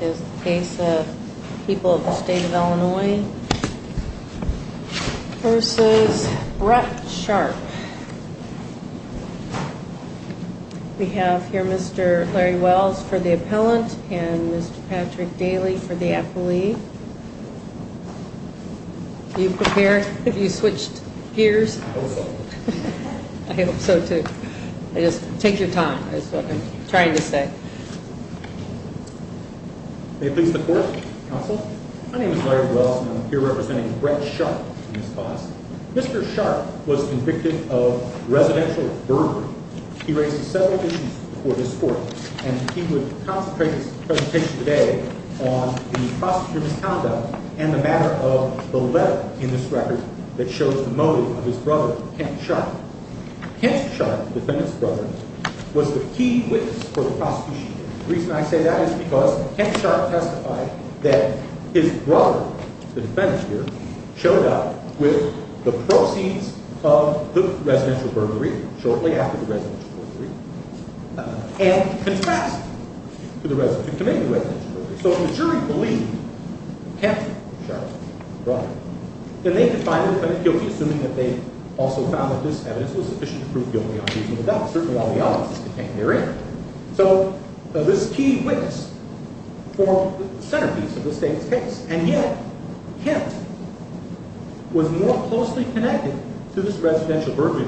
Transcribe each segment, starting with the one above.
is the case of People of the State of Illinois v. Brett Sharp. We have here Mr. Larry Wells for the appellant and Mr. Patrick Daly for the appellee. Are you prepared? Have you switched May it please the court, counsel. My name is Larry Wells and I'm here representing Brett Sharp and his boss. Mr. Sharp was convicted of residential burglary. He raised several issues before this court and he would concentrate his presentation today on the prosecutor's conduct and the matter of the letter in this record that shows the motive of his brother, Kent Sharp. Kent Sharp, the defendant's brother, was the key witness for the prosecution. The reason I say that is because Kent Sharp testified that his brother, the defendant here, showed up with the proceeds of the residential burglary shortly after the residential burglary and confessed to committing the residential burglary. So if the jury believed Kent Sharp's brother, then they could find the defendant guilty assuming that they also found that this evidence was sufficient to prove guilty on reasonable doubt, certainly while the evidence is contained therein. So this key witness formed the centerpiece of this case and yet Kent was more closely connected to this residential burglary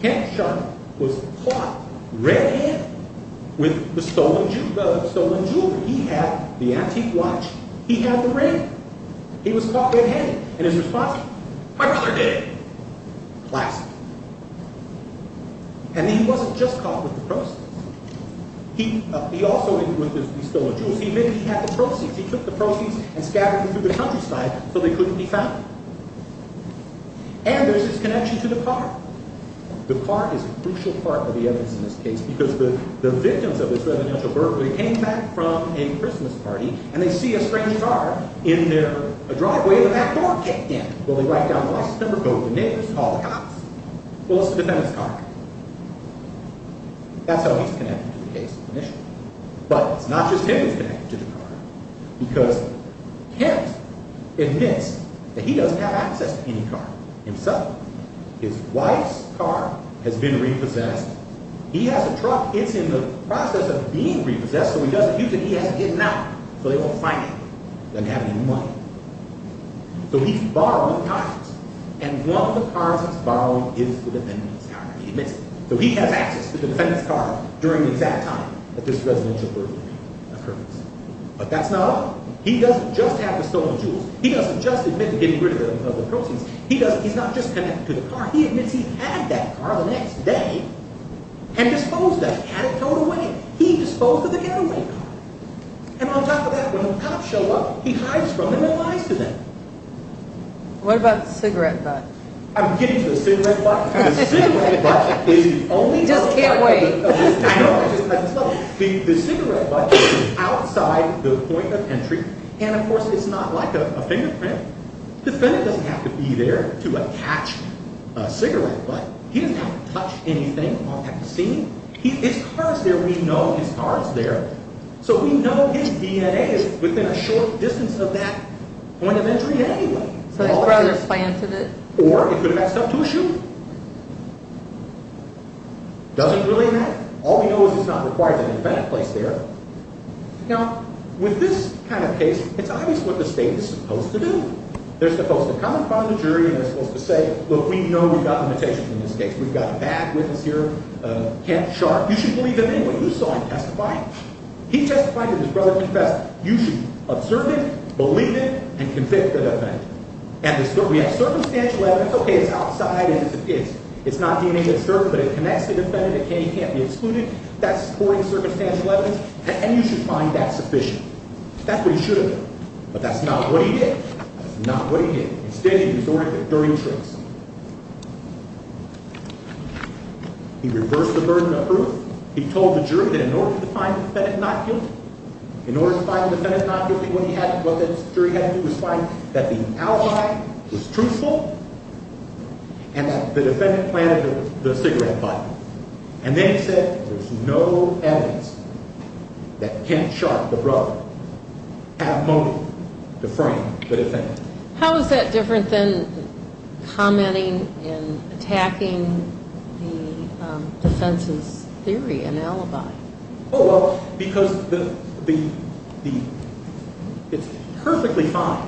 Kent Sharp was caught red-handed with the stolen jewelry. He had the antique watch. He had the ring. He was caught red-handed and his response was, My brother did it. Classic. And he wasn't just caught with the proceeds. He also, with the stolen jewels, he admitted he had the proceeds. He took the proceeds and scattered them through the countryside so they couldn't be found. And there's this connection to the car. The car is a crucial part of the evidence in this case because the victims of this residential burglary came back from a Christmas party and they see a strange car in their driveway and that door kicked in. Well, they write down the license number, go to the neighbors, call the cops. Well, it's the defendant's car. That's how he's connected to the case initially. But it's not just him that's connected to the car because Kent admits that he doesn't have access to any car himself. His wife's car has been repossessed. He has a truck. It's in the process of being repossessed so he doesn't use it. He has to get it out so they won't find it and have any money. So he's borrowing cars. And one of the cars he's borrowing is the defendant's car. He admits it. So he has access to the defendant's car during the exact time that this residential burglary occurs. But that's not all. He doesn't just have the stolen jewels. He doesn't just admit to getting rid of the proceeds. He's not just connected to the car. He admits he had that car the next day and disposed of it. Had it towed away. He disposed of the getaway car. And on top of that, when the cops show up, he hides from them and lies to them. What about the cigarette butt? I'm getting to the cigarette butt. The cigarette butt is outside the point of entry. And of course it's not like a fingerprint. The defendant doesn't have to be there to attach a cigarette butt. He doesn't have to touch anything on that scene. His car is there. We know his car is there. So we know his DNA is within a short distance of that point of entry anyway. So his brother planted it? Or he could have had stuff to his shoe. Doesn't really matter. All we know is it's not required that the defendant placed there. Now, with this kind of case, it's obvious what the state is supposed to do. They're supposed to come in front of the jury and they're supposed to say, look, we know we've got limitations in this case. We've got a bad witness here, Kent Sharp. You should believe him anyway. You saw him testify. He testified to his brother's confession. You should observe it, believe it, and convict the defendant. And we have circumstantial evidence. Okay, it's outside. It's not DNA that's there, but it connects to the defendant. It can't be excluded. That's supporting circumstantial evidence. And you should find that sufficient. That's what he should have done. But that's not what he did. That's not what he did. Instead, he resorted to dirty tricks. He reversed the burden of proof. He told the jury that in order to find the defendant not guilty, in order to find the defendant not guilty, what he had to do was find that the alibi was truthful and that the defendant planted the cigarette button. And then he said, there's no evidence that Kent Sharp, the brother, had motive to frame the defendant. How is that different than commenting and attacking the defense's theory, an alibi? Oh, well, because it's perfectly fine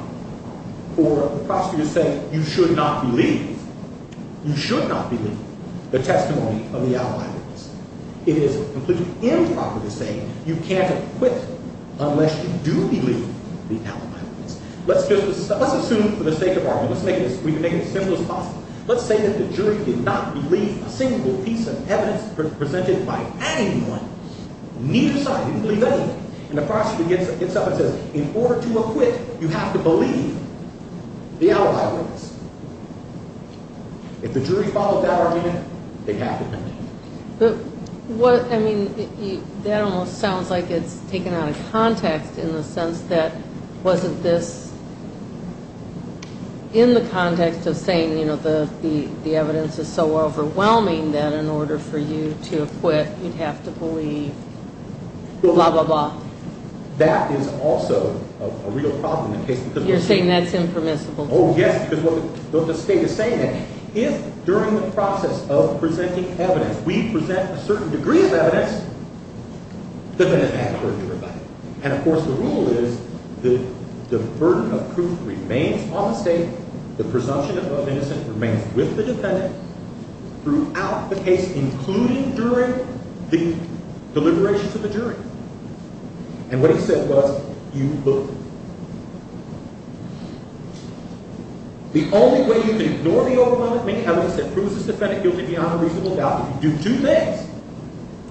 for the prosecutor to say, you should not believe. You should not believe the testimony of the alibi witness. It is completely improper to say you can't acquit unless you do believe the alibi witness. Let's assume, for the sake of argument, let's make it as simple as possible. Let's say that the jury did not believe a single piece of evidence presented by anyone, neither side. They didn't believe anything. And the prosecutor gets up and says, in order to acquit, you have to believe the alibi witness. If the jury followed that argument, they have to acquit. I mean, that almost sounds like it's taken out of context in the sense that wasn't this in the context of saying, you know, the evidence is so overwhelming that in order for you to acquit, you'd have to believe blah, blah, blah. That is also a real problem in the case. You're saying that's impermissible. Oh, yes, because of what the state is saying. If during the process of presenting evidence, we present a certain degree of evidence, the defendant has to prove to everybody. And of course, the rule is that the burden of proof remains on the state. The presumption of innocence remains with the defendant throughout the case, including during the deliberation to the jury. And what he said was, you look. The only way you can ignore the overwhelming evidence that proves this defendant guilty beyond a reasonable doubt, if you do two things,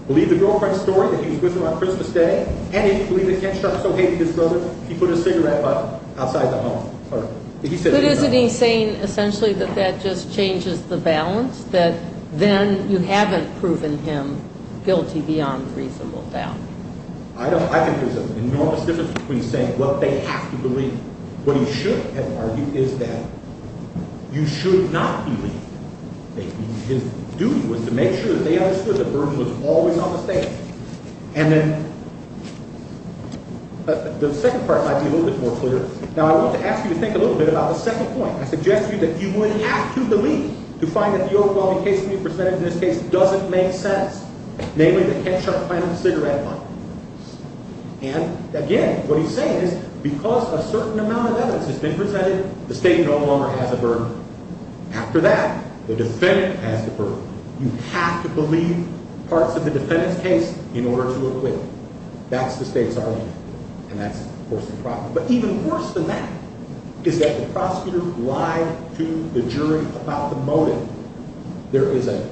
believe the girlfriend's story that he was with her on Christmas Day, and if you believe that Kent Sharp so hated his brother, he put his cigarette butt outside the home. But isn't he saying, essentially, that that just changes the balance? That then you haven't proven him guilty beyond reasonable doubt. I don't – I think there's an enormous difference between saying what they have to believe, and what he should have argued is that you should not believe. His duty was to make sure that they understood the burden was always on the state. And then the second part might be a little bit more clear. Now, I want to ask you to think a little bit about the second point. I suggest to you that you would have to believe to find that the overwhelming case to be presented in this case doesn't make sense, namely that Kent Sharp planted the cigarette butt. And, again, what he's saying is because a certain amount of evidence has been presented, the state no longer has a burden. After that, the defendant has the burden. You have to believe parts of the defendant's case in order to acquit. That's the state's argument, and that's, of course, the problem. But even worse than that is that the prosecutor lied to the jury about the motive. There is a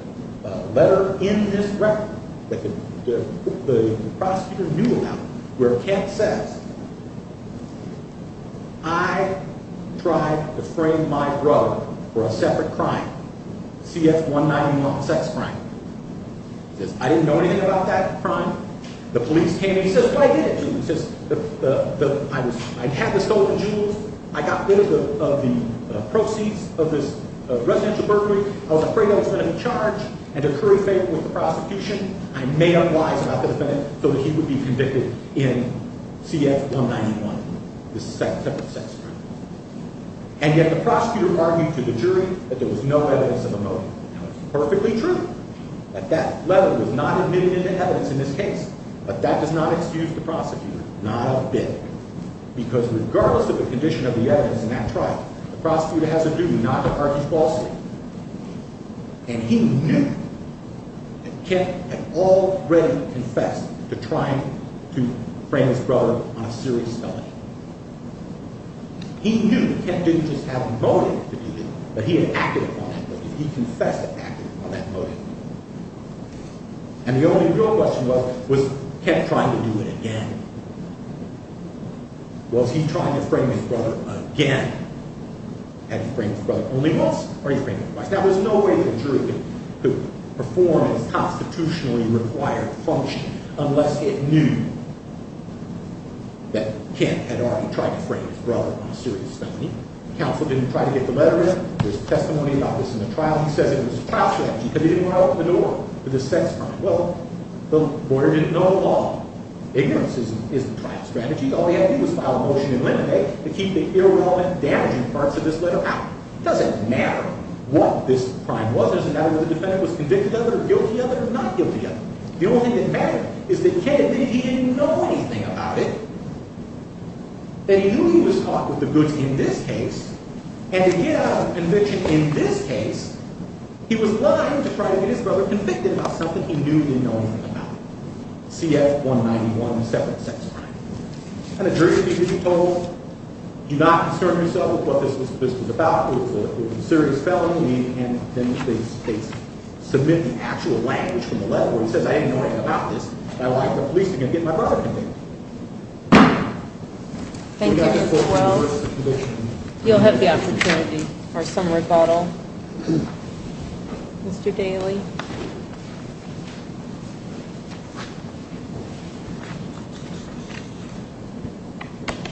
letter in this record that the prosecutor knew about where Kent says, I tried to frame my brother for a separate crime, CF-191 sex crime. He says, I didn't know anything about that crime. The police came and he says, well, I didn't. He says, I had the stolen jewels. I got rid of the proceeds of this residential burglary. I was afraid I was going to be charged, and to curry favor with the prosecution, I made up lies about the defendant so that he would be convicted in CF-191, this separate sex crime. And yet the prosecutor argued to the jury that there was no evidence of a motive. Now, it's perfectly true that that letter was not admitted into evidence in this case, because regardless of the condition of the evidence in that trial, the prosecutor has a duty not to argue falsely. And he knew that Kent had already confessed to trying to frame his brother on a serious felony. He knew that Kent didn't just have a motive to do it, but he had acted upon that motive. He confessed to acting upon that motive. And the only real question was, was Kent trying to do it again? Was he trying to frame his brother again? Had he framed his brother only once, or he framed him twice? Now, there's no way that a jury could perform a constitutionally required function unless it knew that Kent had already tried to frame his brother on a serious felony. Counsel didn't try to get the letter in. There's testimony about this in the trial. He says it was a trial strategy because he didn't want to open the door for this sex crime. Well, the lawyer didn't know it at all. Ignorance isn't a trial strategy. All he had to do was file a motion in limine to keep the irrelevant damaging parts of this letter out. It doesn't matter what this crime was. It doesn't matter whether the defendant was convicted of it or guilty of it or not guilty of it. The only thing that mattered is that Kent admitted he didn't know anything about it, that he knew he was caught with the goods in this case, and to get out of conviction in this case, he was lying to try to get his brother convicted about something he knew he didn't know anything about, CF-191, separate sex crime. And the jury speaker, he told him, do not concern yourself with what this was about. It was a serious felony, and then they submit the actual language from the letter, where he says, I didn't know anything about this, and I'd like the police to get my brother convicted. Thank you, Mr. Wells. You'll have the opportunity for some rebuttal. Mr. Daly.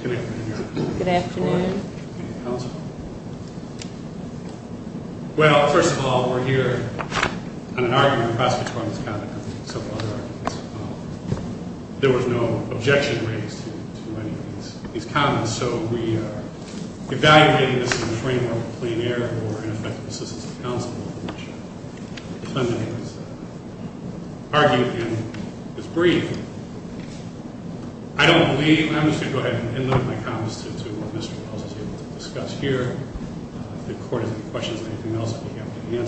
Good afternoon, Your Honor. Good afternoon. Counsel. Well, first of all, we're here on an argument across this room. There was no objection raised to any of these comments, so we are evaluating this in the framework of plain error or ineffective assistance to counsel, which is argued and is brief. I don't believe – I'm just going to go ahead and limit my comments to what Mr. Wells is able to discuss here. If the Court has any questions or anything else, I'll be happy to answer.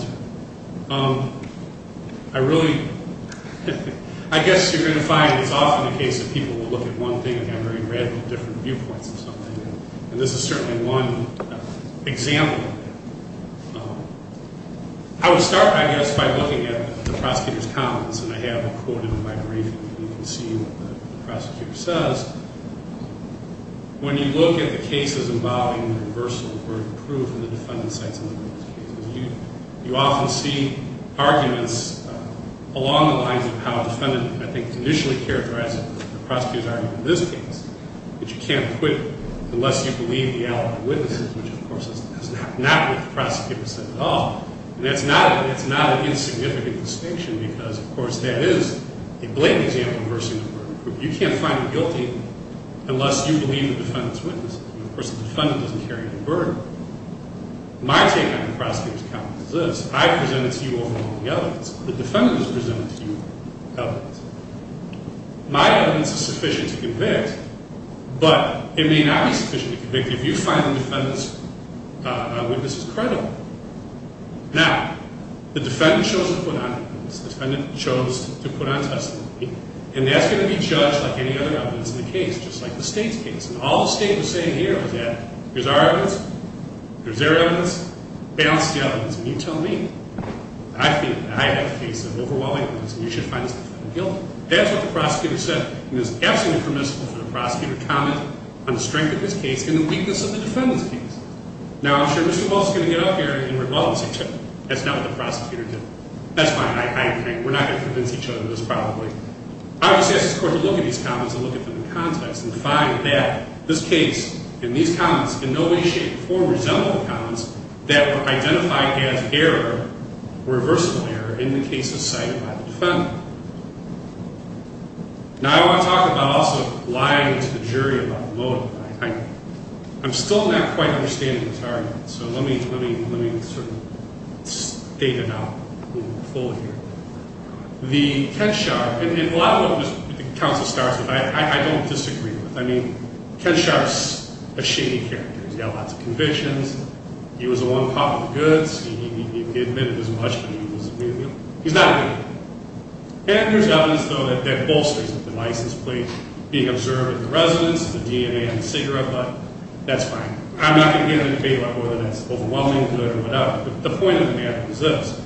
I really – I guess you're going to find it's often the case that people will look at one thing and have very different viewpoints of something, and this is certainly one example of that. I would start, I guess, by looking at the prosecutor's comments, and I have them quoted in my briefing, and you can see what the prosecutor says. When you look at the cases involving the reversal of word of proof in the defendant's case, you often see arguments along the lines of how the defendant, I think, initially characterized the prosecutor's argument in this case, that you can't acquit unless you believe the alibi of witnesses, which, of course, is not what the prosecutor said at all. And that's not an insignificant distinction because, of course, that is a blatant example of reversal of word of proof. You can't find him guilty unless you believe the defendant's witnesses. Of course, the defendant doesn't carry any burden. My take on the prosecutor's comments is this. I presented to you overwhelming evidence. The defendant has presented to you evidence. My evidence is sufficient to convict, but it may not be sufficient to convict if you find the defendant's witnesses credible. Now, the defendant chose to put on evidence. The defendant chose to put on testimony, and that's going to be judged like any other evidence in the case, just like the State's case. And all the State was saying here was that here's our evidence, here's their evidence, balance the evidence, and you tell me. I feel that I have a case of overwhelming evidence, and you should find this defendant guilty. That's what the prosecutor said, and it was absolutely permissible for the prosecutor to comment on the strength of his case and the weakness of the defendant's case. Now, I'm sure Mr. Walsh is going to get up here and say, well, that's not what the prosecutor did. That's fine, I agree. We're not going to convince each other of this, probably. I would just ask this court to look at these comments and look at them in context and find that this case and these comments in no way, shape, or resemble the comments that were identified as error, reversible error, in the case of sight by the defendant. Now, I want to talk about also lying to the jury about the motive. I'm still not quite understanding this argument, so let me sort of state it out a little bit fuller here. The Ken Sharp, and a lot of what the counsel starts with, I don't disagree with. I mean, Ken Sharp's a shady character. He's got lots of convictions. He was the one popping the goods. He admitted as much as he was willing to. He's not a good guy. And there's evidence, though, that bolsters it. The license plate being observed at the residence, the DNA on the cigarette butt. That's fine. I'm not going to get into a debate about whether that's overwhelming, good, or whatever. But the point of the matter is this.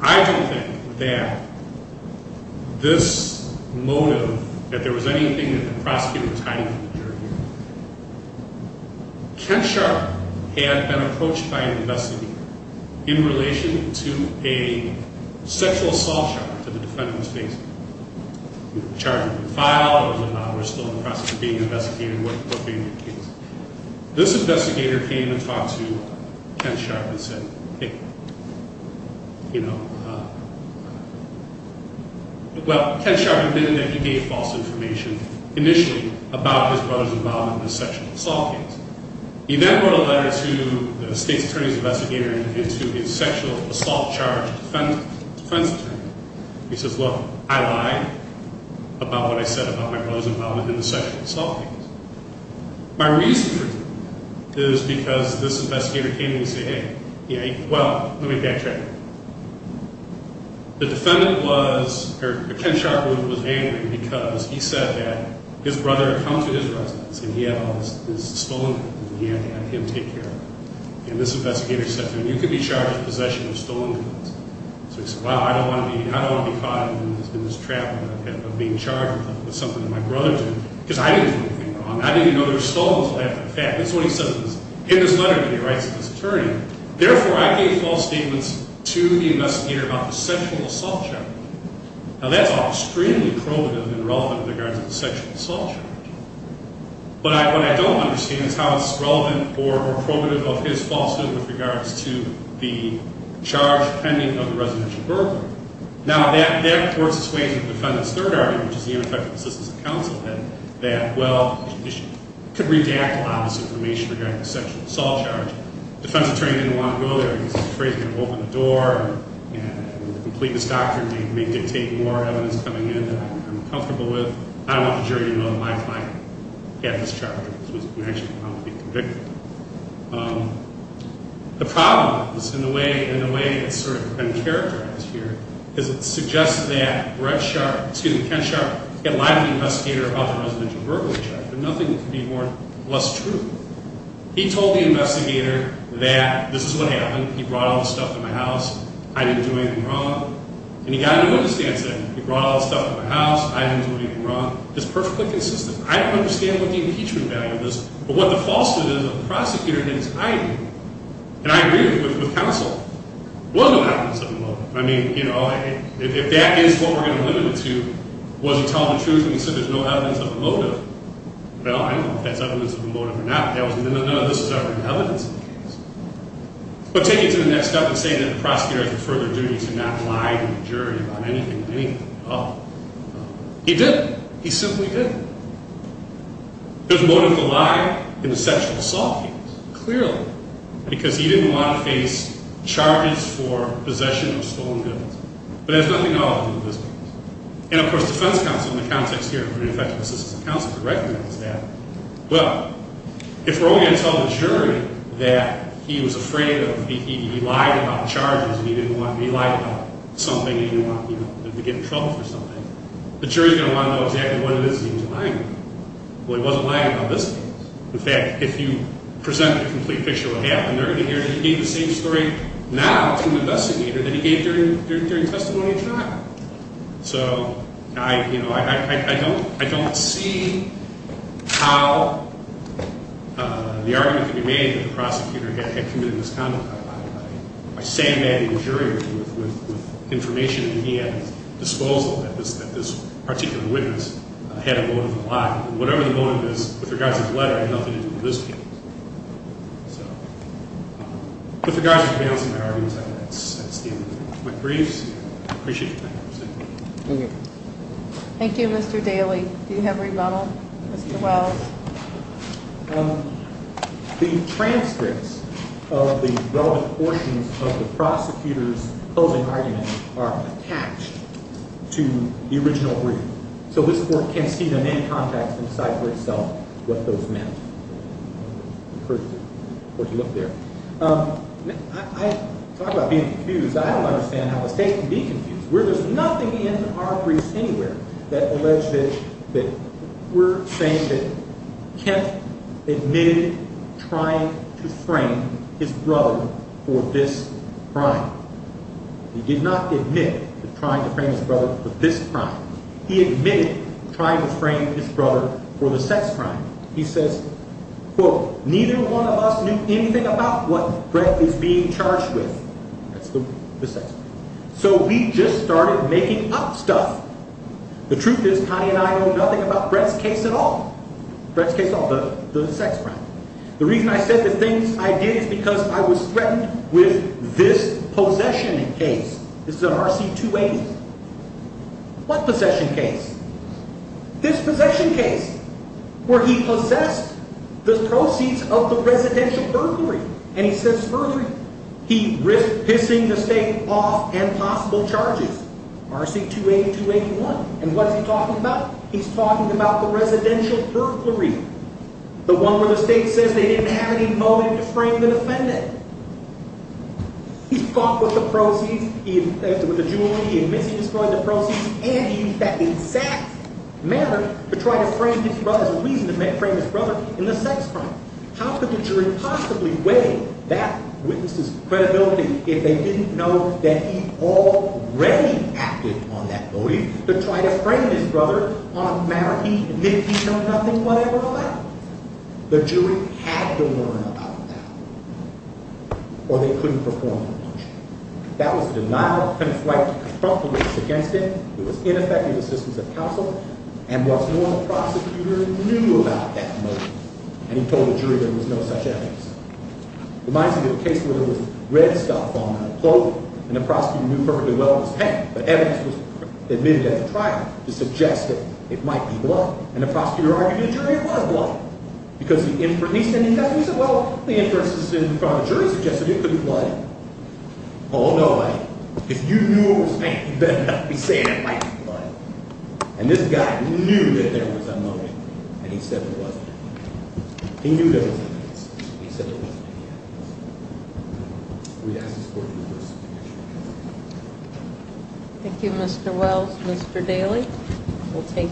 I don't think that this motive, that there was anything that the prosecutor was hiding from the jury. Ken Sharp had been approached by an investigator in relation to a sexual assault charge that the defendant was facing. He was charged with defile, or was still in the process of being investigated, what being the case. This investigator came and talked to Ken Sharp and said, Well, Ken Sharp admitted that he gave false information, initially, about his brother's involvement in the sexual assault case. He then wrote a letter to the state's attorney's investigator and to his sexual assault charge defense attorney. He says, look, I lied about what I said about my brother's involvement in the sexual assault case. My reason for doing this is because this investigator came to me and said, hey, well, let me backtrack. The defendant was, or Ken Sharp was angry because he said that his brother had come to his residence and he had all his stolen goods and he had to have him take care of them. And this investigator said to him, you could be charged with possession of stolen goods. So he said, well, I don't want to be caught in this trap of being charged with something that my brother did. Because I didn't do anything wrong. I didn't even know there was stolen stuff. In fact, that's what he says in this letter to the rights of his attorney. Therefore, I gave false statements to the investigator about the sexual assault charge. Now, that's extremely probative and relevant in regards to the sexual assault charge. But what I don't understand is how it's relevant or probative of his falsehood with regards to the charge pending of the residential burglary. Now, that works its way into the defendant's third argument, which is the ineffective assistance of counsel. That, well, it could redact a lot of this information regarding the sexual assault charge. The defense attorney didn't want to go there. He's afraid he's going to open the door and complete this doctrine. He may dictate more evidence coming in that I'm comfortable with. I don't want the jury to know that my client had this charge. He was actually found to be convicted. The problem is, in the way it's sort of been characterized here, is it suggests that Brett Sharp, excuse me, Ken Sharp, had lied to the investigator about the residential burglary charge, but nothing could be more or less true. He told the investigator that this is what happened. He brought all the stuff to my house. I didn't do anything wrong. And he got a new understanding. He brought all the stuff to my house. I didn't do anything wrong. It's perfectly consistent. I don't understand what the impeachment value is. But what the falsehood is of the prosecutor is I agree. And I agree with counsel. There was no evidence of a motive. I mean, you know, if that is what we're going to limit it to, was he telling the truth and he said there's no evidence of a motive, well, I don't know if that's evidence of a motive or not. None of this is evidence of a motive. But taking it to the next step and saying that the prosecutor has a further duty to not lie to the jury about anything, anything, oh. He didn't. He simply didn't. There's motive to lie in the sexual assault case, clearly, because he didn't want to face charges for possession of stolen goods. But there's nothing at all to do with this case. And, of course, defense counsel, in the context here, if you're an effective assistant counsel, would recognize that. Well, if we're only going to tell the jury that he was afraid of he lied about charges and he lied about something and he didn't want to get in trouble for something, the jury's going to want to know exactly what it is that he was lying about. Well, he wasn't lying about this case. In fact, if you presented a complete picture of what happened there, you gave the same story now to an investigator that he gave during testimony tonight. So, you know, I don't see how the argument can be made that the prosecutor had committed this conduct. I stand by the jury with information at his disposal that this particular witness had a motive to lie. Whatever the motive is, with regards to the letter, it had nothing to do with this case. So, with regards to the balancing priorities, I'd like to end my briefs. I appreciate your time. Thank you. Thank you, Mr. Daly. Do you have a rebuttal, Mr. Wells? The transcripts of the relevant portions of the prosecutor's closing argument are attached to the original brief. So this court can see them in context and decide for itself what those meant. I encourage you to look there. I talk about being confused. I don't understand how a state can be confused. There's nothing in our briefs anywhere that alleges that we're saying that Kent admitted trying to frame his brother for this crime. He did not admit trying to frame his brother for this crime. He admitted trying to frame his brother for the sex crime. He says, quote, neither one of us knew anything about what Brett is being charged with. That's the sex crime. So we just started making up stuff. The truth is Connie and I know nothing about Brett's case at all. Brett's case at all, the sex crime. The reason I said the things I did is because I was threatened with this possession case. This is an RC-280. What possession case? This possession case, where he possessed the proceeds of the residential burglary. And he says further, he risked pissing the state off and possible charges. RC-280, 281. And what is he talking about? He's talking about the residential burglary. The one where the state says they didn't have any motive to frame the defendant. He fought with the proceeds. He admitted with the jewelry. He admits he destroyed the proceeds. And he used that exact manner to try to frame his brother as a reason to frame his brother in the sex crime. How could the jury possibly weigh that witness's credibility if they didn't know that he already acted on that motive to try to frame his brother on a matter he admitted he'd done nothing whatever about? The jury had to learn about that. Or they couldn't perform the motion. That was a denial of his right to confront the witness against him. It was ineffective assistance of counsel. And what's more, the prosecutor knew about that motive. And he told the jury there was no such evidence. Reminds me of a case where there was red stuff on a coat. And the prosecutor knew perfectly well it was paint. But evidence was admitted at the trial to suggest that it might be blood. And the prosecutor argued to the jury it was blood. He said, well, the inferences in front of the jury suggested it could be blood. Oh, no way. If you knew it was paint, you better not be saying it might be blood. And this guy knew that there was a motive. And he said there wasn't. He knew there was evidence. He said there wasn't any evidence. We ask this court to reverse its decision. Thank you, Mr. Wells. Mr. Daly, we'll take that.